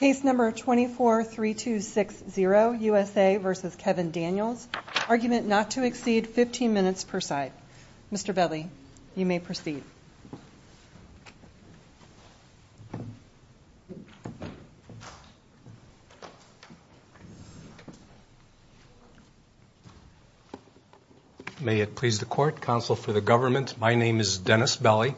Case number 243260, USA v. Kevin Daniels. Argument not to exceed 15 minutes per side. Mr. Belli, you may proceed. May it please the Court, Counsel for the Government, my name is Dennis Belli.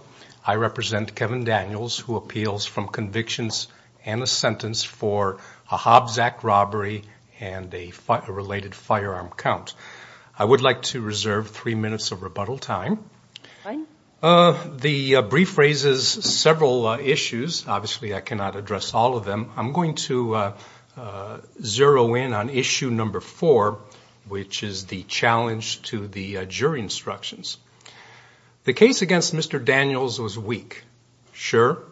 I represent Kevin Daniels who appeals from convictions and a sentence for a Hobbs Act robbery and a related firearm count. I would like to reserve three minutes of rebuttal time. The brief raises several issues. Obviously, I cannot address all of them. I'm going to zero in on issue number four, which is the challenge to the jury instructions. The case against Mr. Daniels was weak. Sure,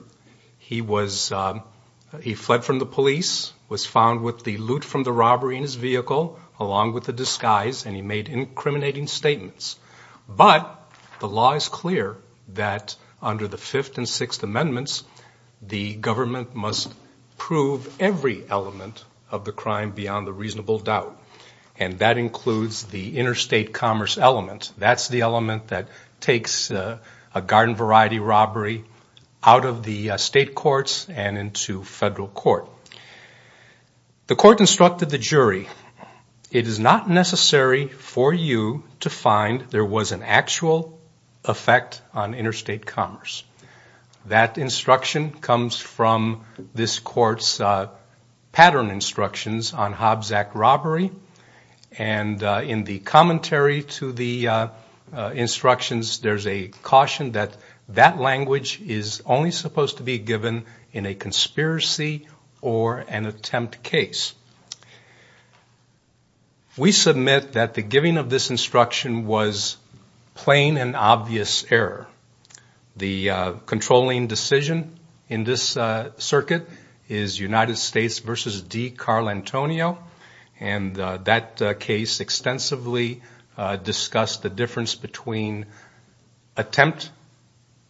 he fled from the police, was found with the loot from the robbery in his vehicle along with the disguise, and he made incriminating statements. But the law is clear that under the Fifth and Sixth Amendments, the government must prove every element of the crime beyond a reasonable doubt, and that includes the interstate commerce element. That's the element that takes a garden variety robbery out of the state courts and into federal court. The Court instructed the jury, it is not necessary for you to find there was an actual effect on interstate commerce. That instruction comes from this Court's pattern instructions on Hobbs Act robbery, and in the commentary to the instructions, there's a caution that that language is only supposed to be given in a conspiracy or an attempt case. We submit that the giving of this instruction was plain and obvious error. The controlling decision in this circuit is United States v. D. Carl Antonio, and that case extensively discussed the difference between attempt,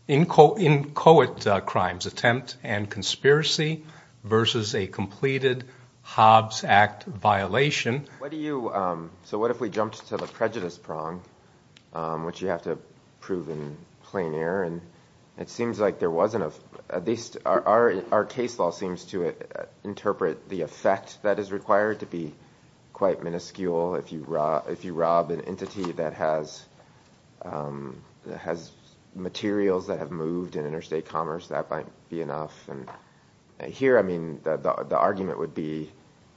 inchoate crimes, attempt and conspiracy versus a completed Hobbs Act violation. So what if we jumped to the prejudice prong, which you have to prove in plain error, and it seems like there wasn't a – at least our case law seems to interpret the effect that is required to be quite minuscule. If you rob an entity that has materials that have moved in interstate commerce, that might be enough. Here, I mean, the argument would be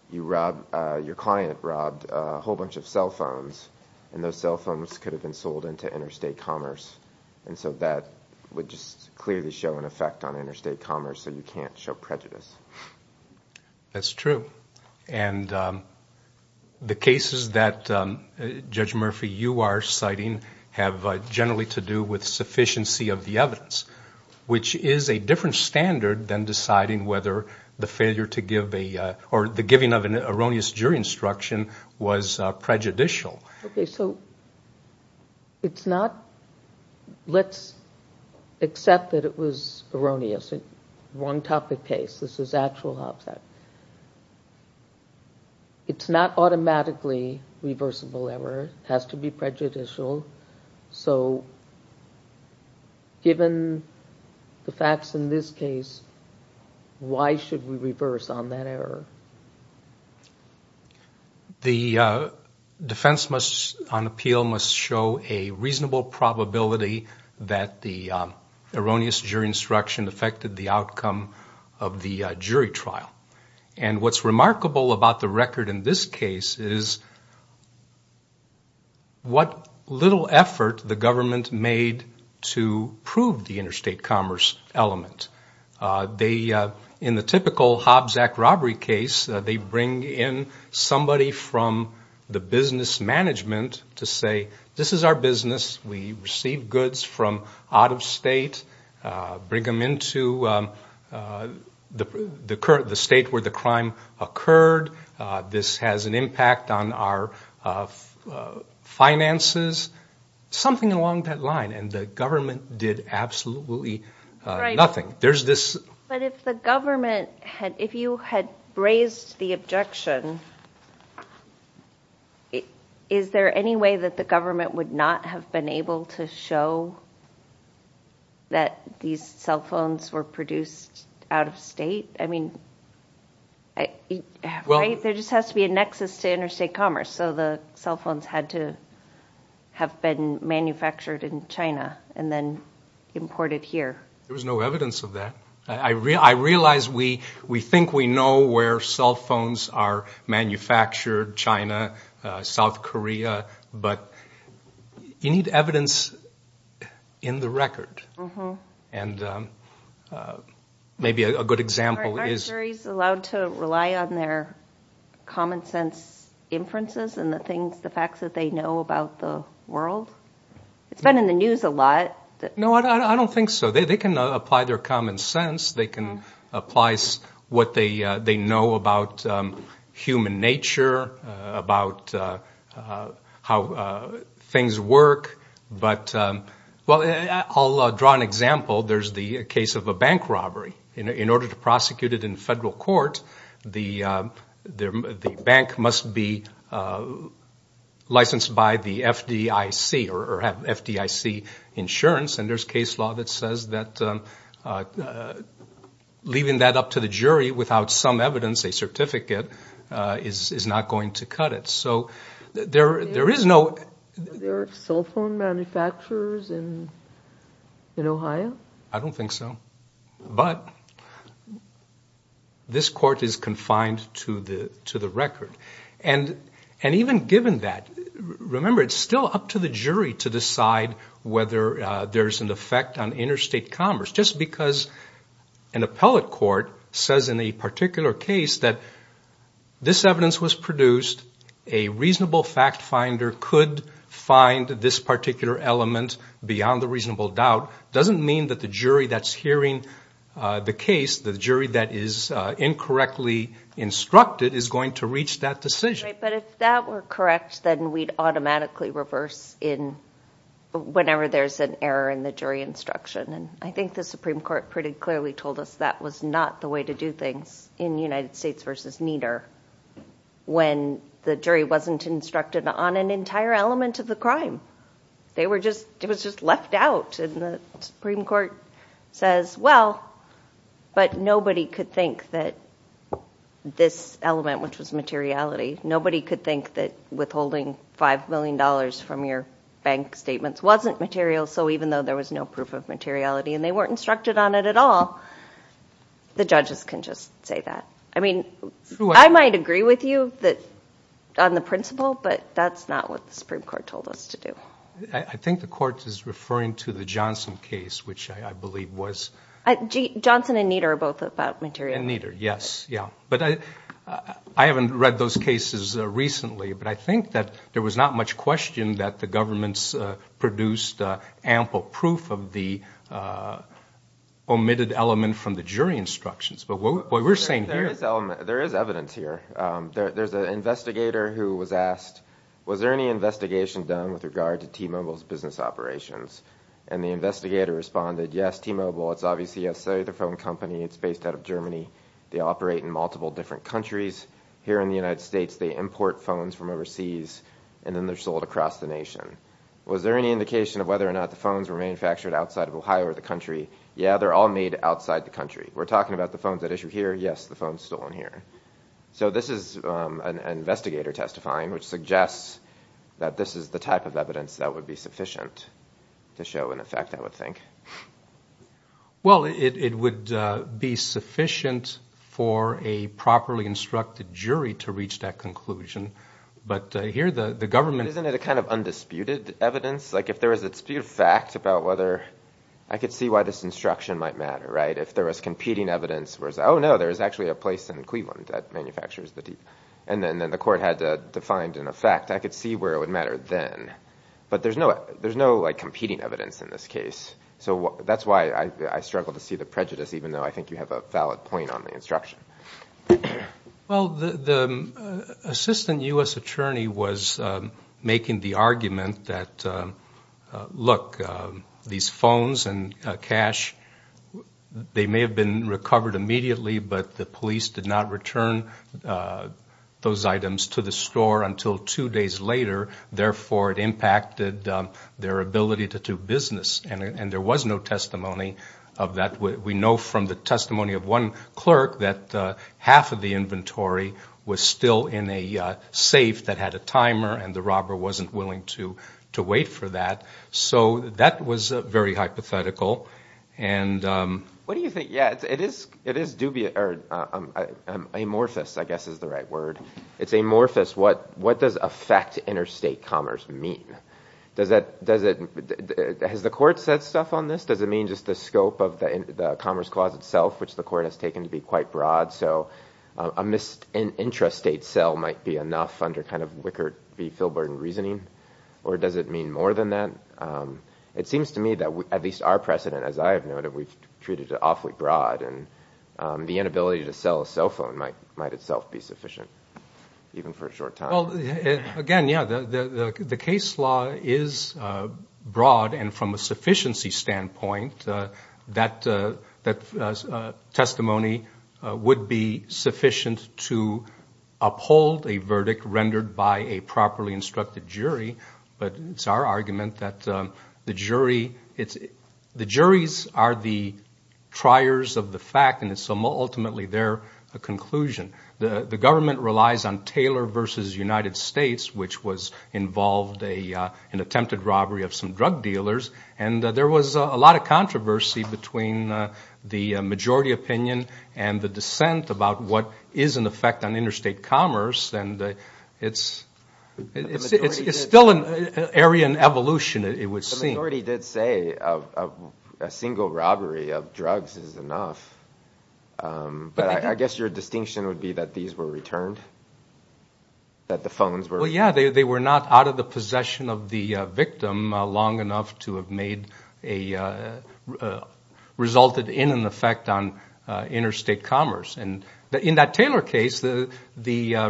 your client robbed a whole bunch of cell phones, and those cell phones could have been sold into interstate commerce, and so that would just clearly show an effect on interstate commerce, so you can't show prejudice. That's true, and the cases that Judge Murphy, you are citing, have generally to do with sufficiency of the evidence, which is a different standard than deciding whether the failure to give a – or the giving of an erroneous jury instruction was prejudicial. Okay, so it's not – let's accept that it was erroneous, wrong topic case. This is actual Hobbs Act. It's not automatically reversible error. It has to be prejudicial, so given the facts in this case, why should we reverse on that error? The defense must – on appeal must show a reasonable probability that the erroneous jury instruction affected the outcome of the jury trial, and what's remarkable about the record in this case is what little effort the government made to prove the interstate commerce element. In the typical Hobbs Act robbery case, they bring in somebody from the business management to say, this is our business, we receive goods from out of state, bring them into the state where the crime occurred, this has an impact on our finances, something along that line, and the government did absolutely nothing. But if the government – if you had raised the objection, is there any way that the government would not have been able to show that these cell phones were produced out of state? I mean, there just has to be a nexus to interstate commerce, so the cell phones had to have been manufactured in China and then imported here. There was no evidence of that. I realize we think we know where cell phones are manufactured, China, South Korea, but you need evidence in the record, and maybe a good example is – Aren't juries allowed to rely on their common sense inferences and the facts that they know about the world? It's been in the news a lot. No, I don't think so. They can apply their common sense. They can apply what they know about human nature, about how things work. But – well, I'll draw an example. There's the case of a bank robbery. In order to prosecute it in federal court, the bank must be licensed by the FDIC or have FDIC insurance, and there's case law that says that leaving that up to the jury without some evidence, a certificate, is not going to cut it. So there is no – Were there cell phone manufacturers in Ohio? I don't think so. But this court is confined to the record. And even given that, remember, it's still up to the jury to decide whether there's an effect on interstate commerce. Just because an appellate court says in a particular case that this evidence was produced, a reasonable fact finder could find this particular element beyond a reasonable doubt, doesn't mean that the jury that's hearing the case, the jury that is incorrectly instructed, is going to reach that decision. Right, but if that were correct, then we'd automatically reverse in whenever there's an error in the jury instruction. And I think the Supreme Court pretty clearly told us that was not the way to do things in United States v. Nieder when the jury wasn't instructed on an entire element of the crime. They were just – it was just left out. And the Supreme Court says, well, but nobody could think that this element, which was materiality, nobody could think that withholding $5 million from your bank statements wasn't material, so even though there was no proof of materiality and they weren't instructed on it at all, the judges can just say that. I mean, I might agree with you on the principle, but that's not what the Supreme Court told us to do. I think the court is referring to the Johnson case, which I believe was – Johnson and Nieder are both about materiality. And Nieder, yes, yeah. But I haven't read those cases recently, but I think that there was not much question that the government's produced ample proof of the omitted element from the jury instructions. But what we're saying here – There is evidence here. There's an investigator who was asked, was there any investigation done with regard to T-Mobile's business operations? And the investigator responded, yes, T-Mobile. It's obviously a cellular phone company. It's based out of Germany. They operate in multiple different countries. Here in the United States, they import phones from overseas, and then they're sold across the nation. Was there any indication of whether or not the phones were manufactured outside of Ohio or the country? Yeah, they're all made outside the country. We're talking about the phones at issue here. Yes, the phones stolen here. So this is an investigator testifying, which suggests that this is the type of evidence that would be sufficient to show an effect, I would think. Well, it would be sufficient for a properly instructed jury to reach that conclusion. But here the government – Isn't it a kind of undisputed evidence? Like if there was a dispute of fact about whether – I could see why this instruction might matter, right? If there was competing evidence, whereas, oh, no, there is actually a place in Cleveland that manufactures the T-Mobile. And then the court had to find an effect. I could see where it would matter then. But there's no competing evidence in this case. So that's why I struggle to see the prejudice, even though I think you have a valid point on the instruction. Well, the assistant U.S. attorney was making the argument that, look, these phones and cash, they may have been recovered immediately, but the police did not return those items to the store until two days later. Therefore, it impacted their ability to do business. And there was no testimony of that. We know from the testimony of one clerk that half of the inventory was still in a safe that had a timer, and the robber wasn't willing to wait for that. So that was very hypothetical. And – What do you think – yeah, it is dubious – amorphous, I guess, is the right word. It's amorphous. What does affect interstate commerce mean? Does it – has the court said stuff on this? Does it mean just the scope of the Commerce Clause itself, which the court has taken to be quite broad? So an intrastate sale might be enough under kind of Wickard v. Filburn reasoning? Or does it mean more than that? It seems to me that at least our precedent, as I have noted, we've treated it awfully broad. And the inability to sell a cell phone might itself be sufficient, even for a short time. Well, again, yeah, the case law is broad. And from a sufficiency standpoint, that testimony would be sufficient to uphold a verdict rendered by a properly instructed jury. But it's our argument that the jury – the juries are the triers of the fact, and it's ultimately their conclusion. The government relies on Taylor v. United States, which was – involved an attempted robbery of some drug dealers. And there was a lot of controversy between the majority opinion and the dissent about what is in effect on interstate commerce. And it's still an area in evolution, it would seem. The majority did say a single robbery of drugs is enough. But I guess your distinction would be that these were returned, that the phones were – Well, yeah, they were not out of the possession of the victim long enough to have made a – resulted in an effect on interstate commerce. And in that Taylor case, the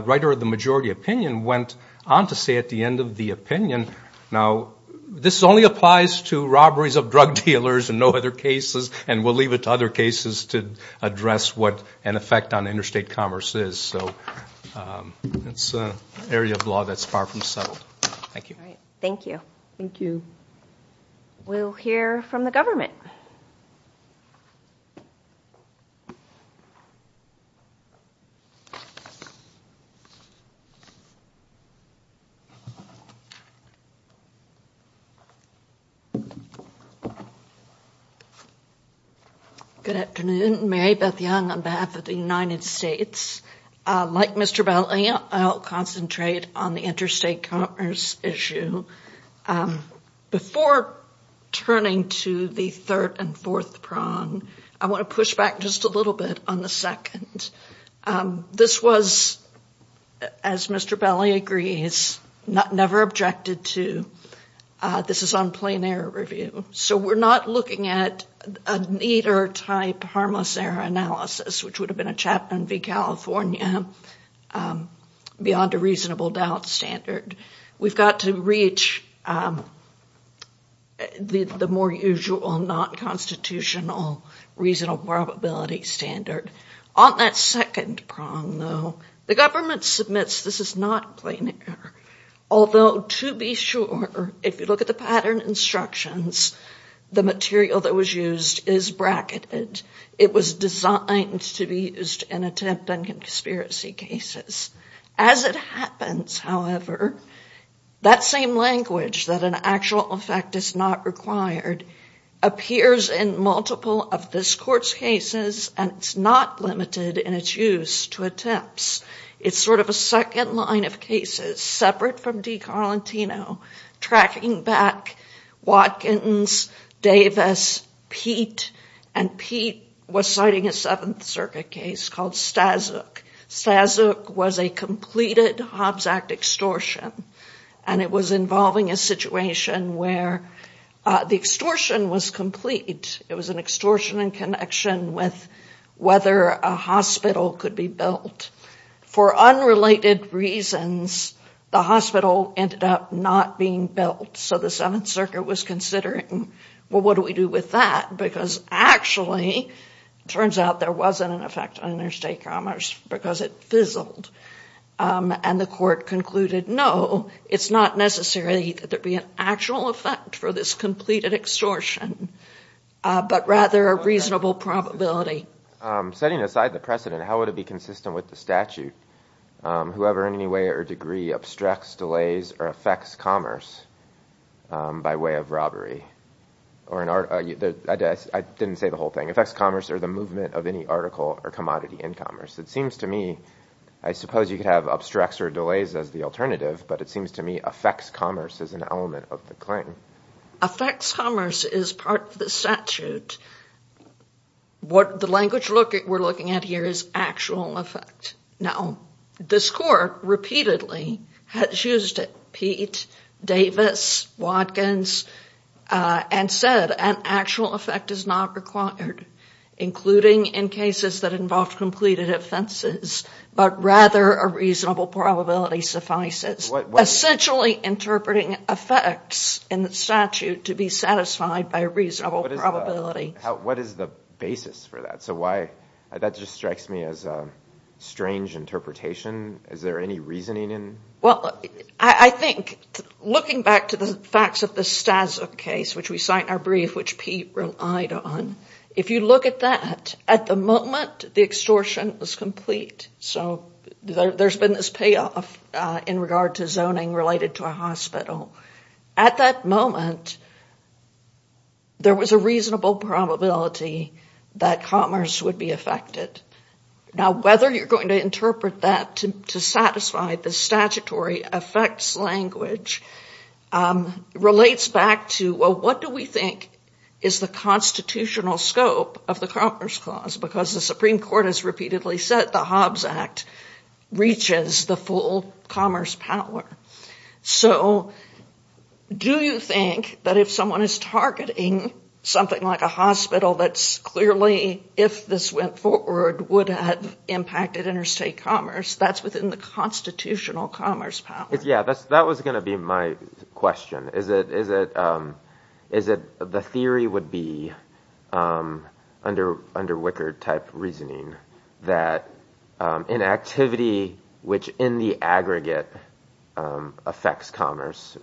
writer of the majority opinion went on to say at the end of the opinion, now, this only applies to robberies of drug dealers and no other cases, and we'll leave it to other cases to address what an effect on interstate commerce is. So it's an area of law that's far from settled. Thank you. Thank you. Thank you. We'll hear from the government. Good afternoon. Mary Beth Young on behalf of the United States. Like Mr. Belli, I'll concentrate on the interstate commerce issue. Before turning to the third and fourth prong, I want to push back just a little bit on the second. This was, as Mr. Belli agrees, never objected to. This is on plain error review. So we're not looking at an either type harmless error analysis, which would have been a Chapman v. California, beyond a reasonable doubt standard. We've got to reach the more usual, not constitutional, reasonable probability standard. On that second prong, though, the government submits this is not plain error, although to be sure, if you look at the pattern instructions, the material that was used is bracketed. It was designed to be used in attempt on conspiracy cases. As it happens, however, that same language, that an actual effect is not required, appears in multiple of this court's cases, and it's not limited in its use to attempts. It's sort of a second line of cases, separate from De Carlantino, tracking back Watkins, Davis, Peete, and Peete was citing a Seventh Circuit case called Staszuk. Staszuk was a completed Hobbs Act extortion, and it was involving a situation where the extortion was complete. It was an extortion in connection with whether a hospital could be built. For unrelated reasons, the hospital ended up not being built. So the Seventh Circuit was considering, well, what do we do with that? Because actually, it turns out there wasn't an effect on interstate commerce because it fizzled. And the court concluded, no, it's not necessarily that there'd be an actual effect for this completed extortion, but rather a reasonable probability. Setting aside the precedent, how would it be consistent with the statute? Whoever in any way or degree obstructs, delays, or affects commerce by way of robbery, I didn't say the whole thing, affects commerce or the movement of any article or commodity in commerce. It seems to me, I suppose you could have obstructs or delays as the alternative, but it seems to me affects commerce is an element of the claim. Affects commerce is part of the statute. What the language we're looking at here is actual effect. Now, this court repeatedly has used Peete, Davis, Watkins, and said an actual effect is not required, including in cases that involve completed offenses, but rather a reasonable probability suffices. Essentially interpreting effects in the statute to be satisfied by a reasonable probability. What is the basis for that? That just strikes me as a strange interpretation. Is there any reasoning in it? Well, I think, looking back to the facts of the Stasov case, which we cite in our brief, which Peete relied on, if you look at that, at the moment the extortion was complete, so there's been this payoff in regard to zoning related to a hospital. At that moment, there was a reasonable probability that commerce would be affected. Now, whether you're going to interpret that to satisfy the statutory effects language relates back to, well, what do we think is the constitutional scope of the Commerce Clause? Because the Supreme Court has repeatedly said the Hobbs Act reaches the full commerce power. So do you think that if someone is targeting something like a hospital that's clearly, if this went forward, would have impacted interstate commerce, that's within the constitutional commerce power? Yeah, that was going to be my question. Is it the theory would be, under Wickard-type reasoning, that an activity which in the aggregate affects commerce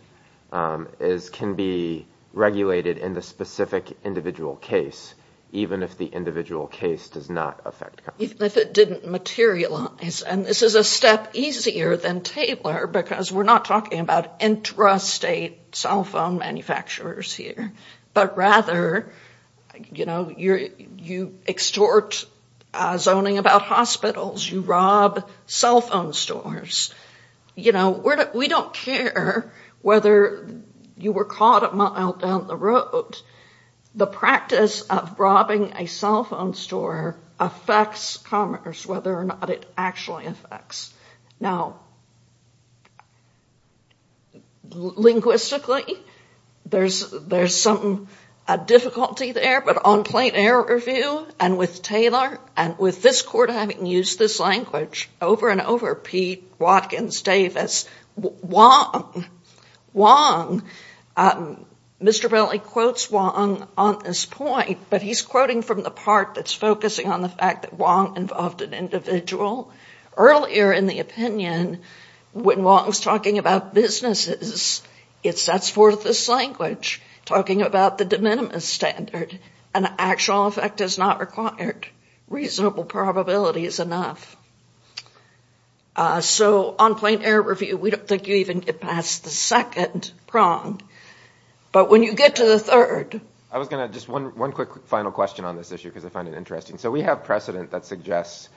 can be regulated in the specific individual case, even if the individual case does not affect commerce? Even if it didn't materialize. And this is a step easier than Taylor, because we're not talking about intrastate cell phone manufacturers here. But rather, you extort zoning about hospitals, you rob cell phone stores. We don't care whether you were caught a mile down the road. The practice of robbing a cell phone store affects commerce, whether or not it actually affects. Now, linguistically, there's some difficulty there. But on plain error review, and with Taylor, and with this court having used this language over and over, Pete Watkins Davis, Wong, Mr. Bentley quotes Wong on this point, but he's quoting from the part that's focusing on the fact that Wong involved an individual. Earlier in the opinion, when Wong was talking about businesses, it sets forth this language, talking about the de minimis standard, an actual effect is not required. Reasonable probability is enough. So on plain error review, we don't think you even get past the second prong. But when you get to the third. I was going to just one one quick final question on this issue, because I find it interesting. So we have precedent that suggests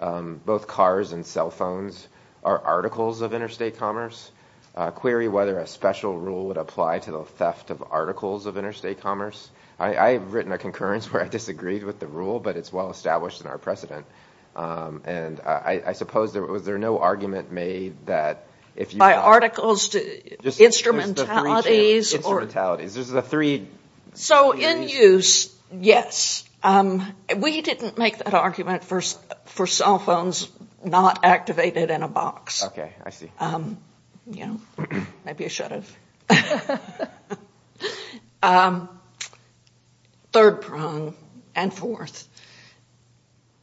both cars and cell phones are articles of interstate commerce. Query whether a special rule would apply to the theft of articles of interstate commerce. I have written a concurrence where I disagreed with the rule, but it's well established in our precedent. And I suppose there was there no argument made that if you buy articles to instrumentalities. So in use, yes. We didn't make that argument for cell phones not activated in a box. OK, I see. You know, maybe I should have. Third prong and fourth.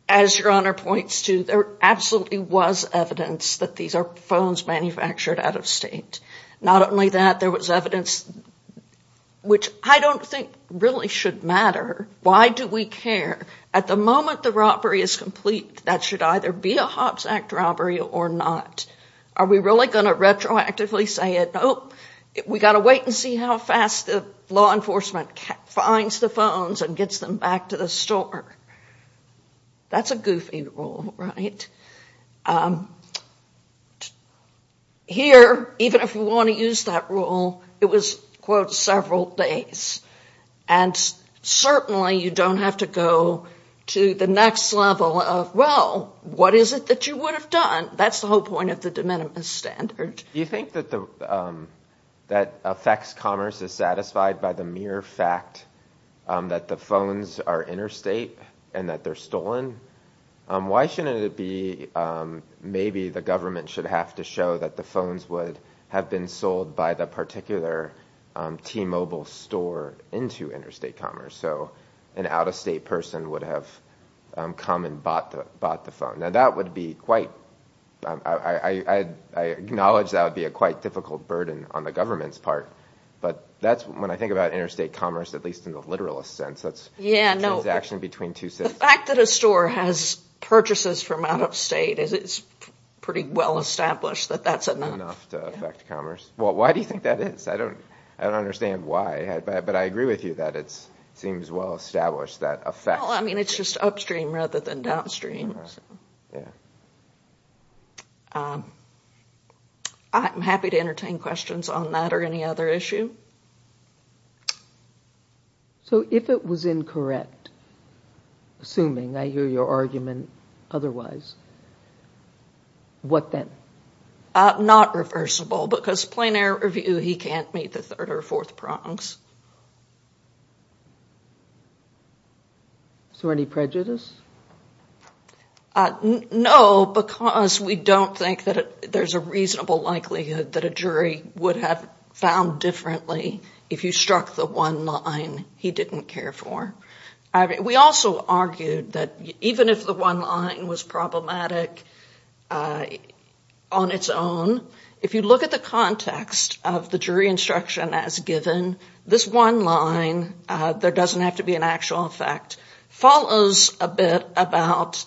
As your honor points to, there absolutely was evidence that these are phones manufactured out of state. Not only that, there was evidence which I don't think really should matter. Why do we care? At the moment, the robbery is complete. That should either be a Hobbs Act robbery or not. Are we really going to retroactively say it? Nope. We got to wait and see how fast the law enforcement finds the phones and gets them back to the store. That's a goofy rule, right? Here, even if you want to use that rule, it was, quote, several days. And certainly you don't have to go to the next level of, well, what is it that you would have done? That's the whole point of the de minimis standard. Do you think that affects commerce is satisfied by the mere fact that the phones are interstate and that they're stolen? Why shouldn't it be maybe the government should have to show that the phones would have been sold by the particular T-Mobile store into interstate commerce? So an out-of-state person would have come and bought the phone. Now, that would be quite ‑‑ I acknowledge that would be a quite difficult burden on the government's part, but that's when I think about interstate commerce, at least in the literal sense. The fact that a store has purchases from out-of-state is pretty well established that that's enough. Why do you think that is? I don't understand why, but I agree with you that it seems well established that affects commerce. Well, I mean, it's just upstream rather than downstream. I'm happy to entertain questions on that or any other issue. So if it was incorrect, assuming I hear your argument otherwise, what then? Not reversible, because plain air review, he can't meet the third or fourth prongs. Is there any prejudice? No, because we don't think that there's a reasonable likelihood that a jury would have found differently if you struck the one line he didn't care for. We also argued that even if the one line was problematic on its own, if you look at the context of the jury instruction as given, this one line, there doesn't have to be an actual effect, follows a bit about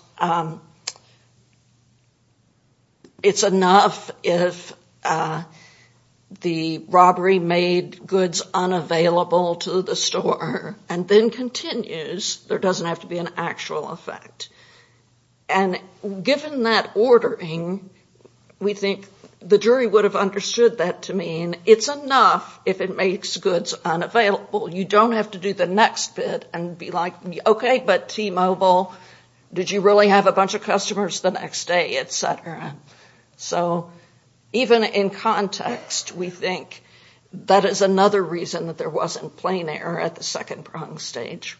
it's enough if the robbery made goods unavailable to the store and then continues, there doesn't have to be an actual effect. And given that ordering, we think the jury would have understood that to mean it's enough if it makes goods unavailable. You don't have to do the next bit and be like, okay, but T-Mobile, did you really have a bunch of customers the next day, et cetera. So even in context, we think that is another reason that there wasn't plain air at the second prong stage.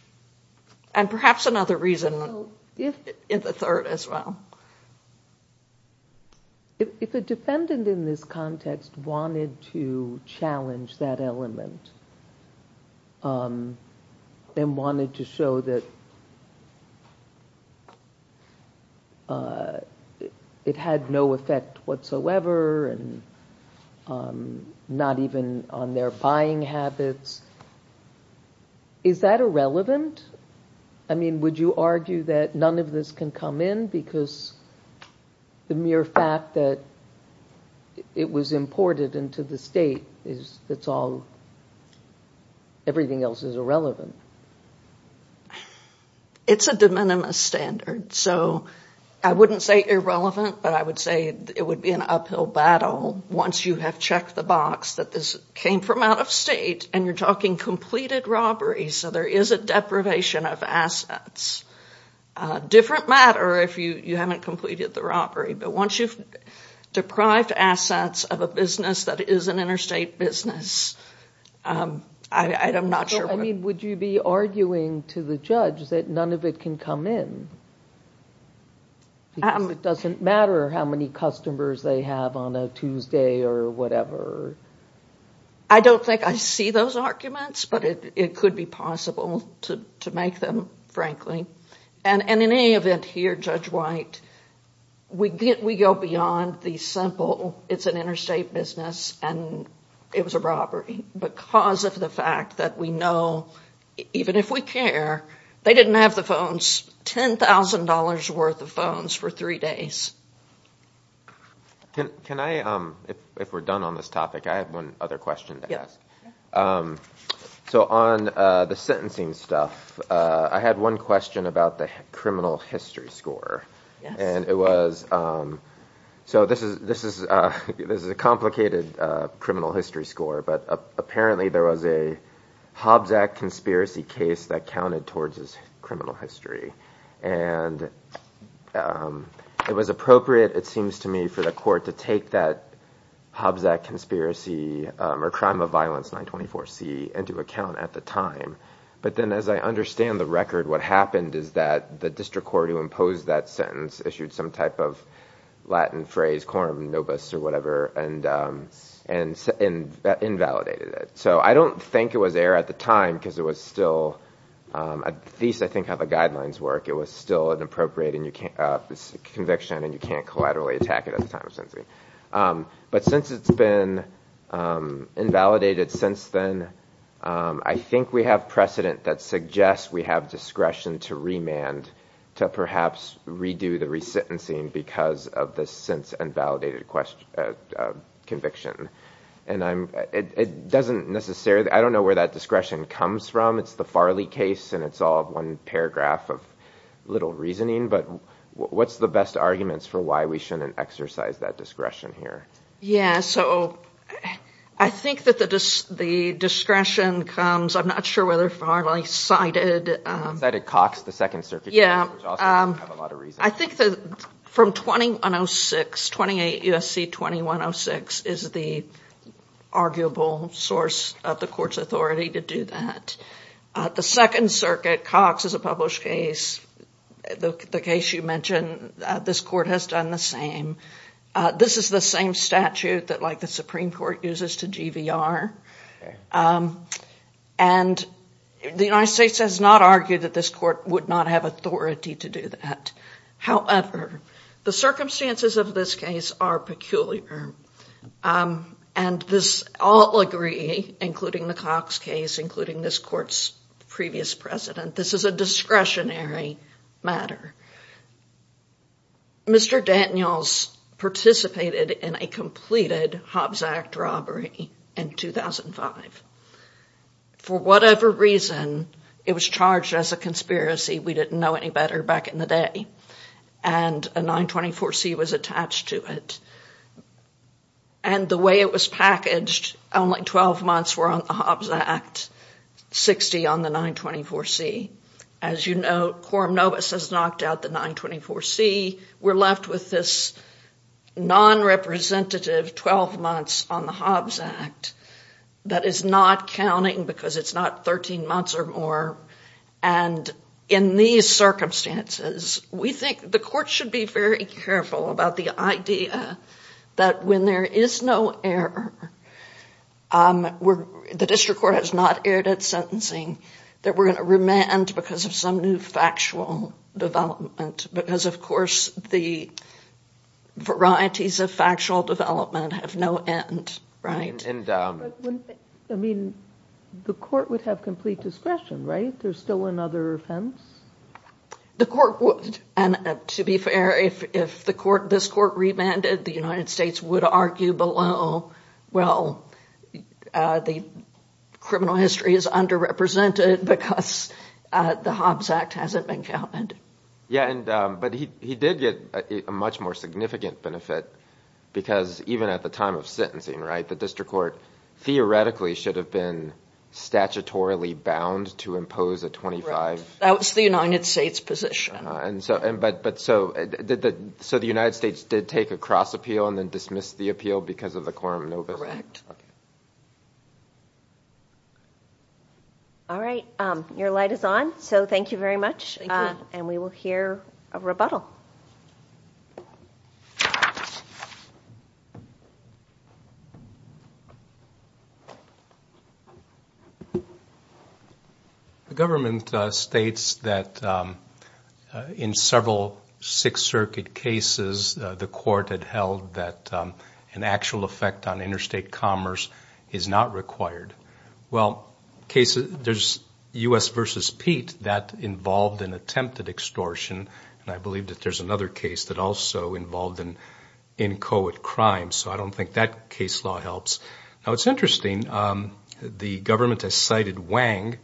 And perhaps another reason in the third as well. If a defendant in this context wanted to challenge that element and wanted to show that it had no effect whatsoever and not even on their buying habits, is that irrelevant? I mean, would you argue that none of this can come in? Because the mere fact that it was imported into the state, everything else is irrelevant. It's a de minimis standard. So I wouldn't say irrelevant, but I would say it would be an uphill battle once you have checked the box that this came from out of state and you're talking completed robberies, so there is a deprivation of assets. Different matter if you haven't completed the robbery, but once you've deprived assets of a business that is an interstate business, I'm not sure. I mean, would you be arguing to the judge that none of it can come in? It doesn't matter how many customers they have on a Tuesday or whatever. I don't think I see those arguments, but it could be possible to make them, frankly. And in any event here, Judge White, we go beyond the simple, it's an interstate business and it was a robbery because of the fact that we know, even if we care, they didn't have the phones, $10,000 worth of phones for three days. Can I, if we're done on this topic, I have one other question to ask. So on the sentencing stuff, I had one question about the criminal history score. And it was, so this is a complicated criminal history score, but apparently there was a Hobbs Act conspiracy case that counted towards his criminal history. And it was appropriate, it seems to me, for the court to take that Hobbs Act conspiracy or crime of violence 924C into account at the time. But then as I understand the record, what happened is that the district court who imposed that sentence issued some type of Latin phrase, quorum nobis or whatever and invalidated it. So I don't think it was air at the time because it was still, at least I think how the guidelines work, it was still an appropriate conviction and you can't collaterally attack it at the time of sentencing. But since it's been invalidated since then, I think we have precedent that suggests we have discretion to remand to perhaps redo the resentencing because of this since invalidated conviction. And it doesn't necessarily, I don't know where that discretion comes from. It's the Farley case and it's all one paragraph of little reasoning. But what's the best arguments for why we shouldn't exercise that discretion here? Yeah, so I think that the discretion comes, I'm not sure whether Farley cited... Cited Cox, the Second Circuit. Yeah, I think from 2106, 28 U.S.C. 2106 is the arguable source of the court's authority to do that. The Second Circuit, Cox is a published case. The case you mentioned, this court has done the same. This is the same statute that like the Supreme Court uses to GVR. And the United States has not argued that this court would not have authority to do that. However, the circumstances of this case are peculiar. And this all agree, including the Cox case, including this court's previous precedent. This is a discretionary matter. Mr. Daniels participated in a completed Hobbs Act robbery in 2005. For whatever reason, it was charged as a conspiracy. We didn't know any better back in the day. And a 924C was attached to it. And the way it was packaged, only 12 months were on the Hobbs Act, 60 on the 924C. As you know, Quorum Novus has knocked out the 924C. We're left with this non-representative 12 months on the Hobbs Act that is not counting because it's not 13 months or more. And in these circumstances, we think the court should be very careful about the idea that when there is no error, the district court has not erred at sentencing, that we're going to remand because of some new factual development. Because, of course, the varieties of factual development have no end. I mean, the court would have complete discretion, right? There's still another offense? The court would. And to be fair, if this court remanded, the United States would argue below, well, the criminal history is underrepresented because the Hobbs Act hasn't been counted. Yeah, but he did get a much more significant benefit because even at the time of sentencing, right, the district court theoretically should have been statutorily bound to impose a 25. That was the United States' position. But so the United States did take a cross appeal and then dismissed the appeal because of the Quorum Novus Act? Correct. All right, your light is on, so thank you very much. Thank you. And we will hear a rebuttal. The government states that in several Sixth Circuit cases, the court had held that an actual effect on interstate commerce is not required. Well, there's U.S. v. Pete that involved an attempted extortion, and I believe that there's another case that also involved an inchoate crime, so I don't think that case law helps. Now, it's interesting, the government has cited Wang.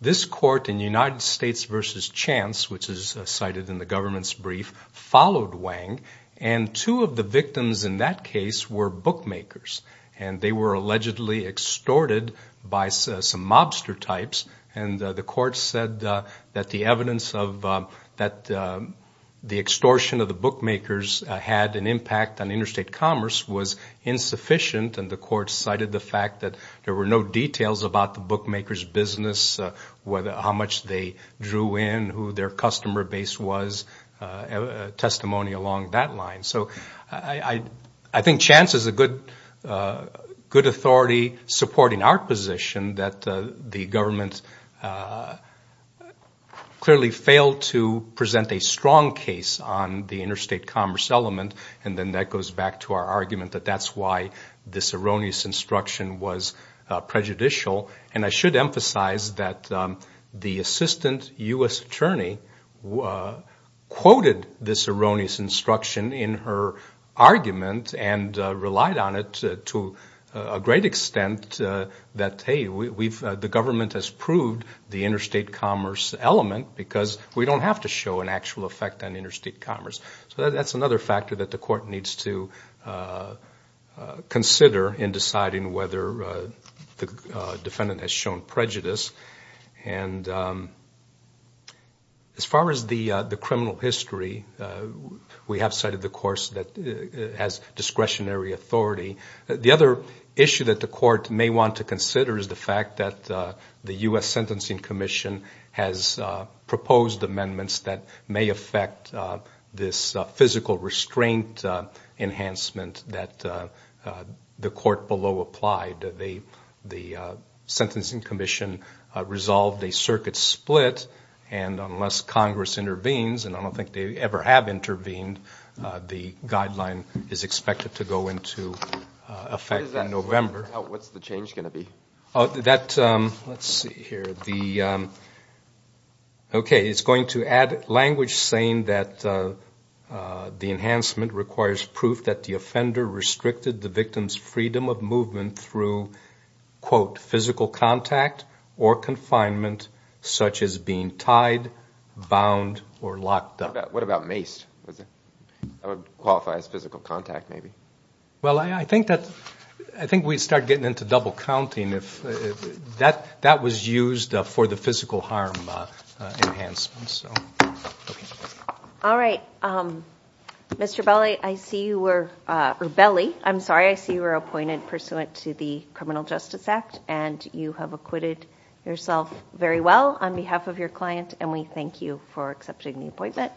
This court in United States v. Chance, which is cited in the government's brief, followed Wang, and two of the victims in that case were bookmakers, and they were allegedly extorted by some mobster types, and the court said that the evidence of the extortion of the bookmakers had an impact on interstate commerce was insufficient, and the court cited the fact that there were no details about the bookmakers' business, how much they drew in, who their customer base was, testimony along that line. So I think Chance is a good authority supporting our position that the government clearly failed to present a strong case on the interstate commerce element, and then that goes back to our argument that that's why this erroneous instruction was prejudicial, and I should emphasize that the assistant U.S. attorney quoted this erroneous instruction in her argument and relied on it to a great extent that, hey, the government has proved the interstate commerce element because we don't have to show an actual effect on interstate commerce. So that's another factor that the court needs to consider in deciding whether the defendant has shown prejudice. And as far as the criminal history, we have cited the course that has discretionary authority. The other issue that the court may want to consider is the fact that the U.S. Sentencing Commission has proposed amendments that may affect this physical restraint enhancement that the court below applied. The Sentencing Commission resolved a circuit split, and unless Congress intervenes, and I don't think they ever have intervened, the guideline is expected to go into effect in November. What's the change going to be? Let's see here. Okay, it's going to add language saying that the enhancement requires proof that the offender restricted the victim's freedom of movement through, quote, physical contact or confinement such as being tied, bound, or locked up. What about maced? That would qualify as physical contact maybe. Well, I think we'd start getting into double counting if that was used for the physical harm enhancement. All right. Mr. Belli, I see you were appointed pursuant to the Criminal Justice Act, and you have acquitted yourself very well on behalf of your client, and we thank you for accepting the appointment.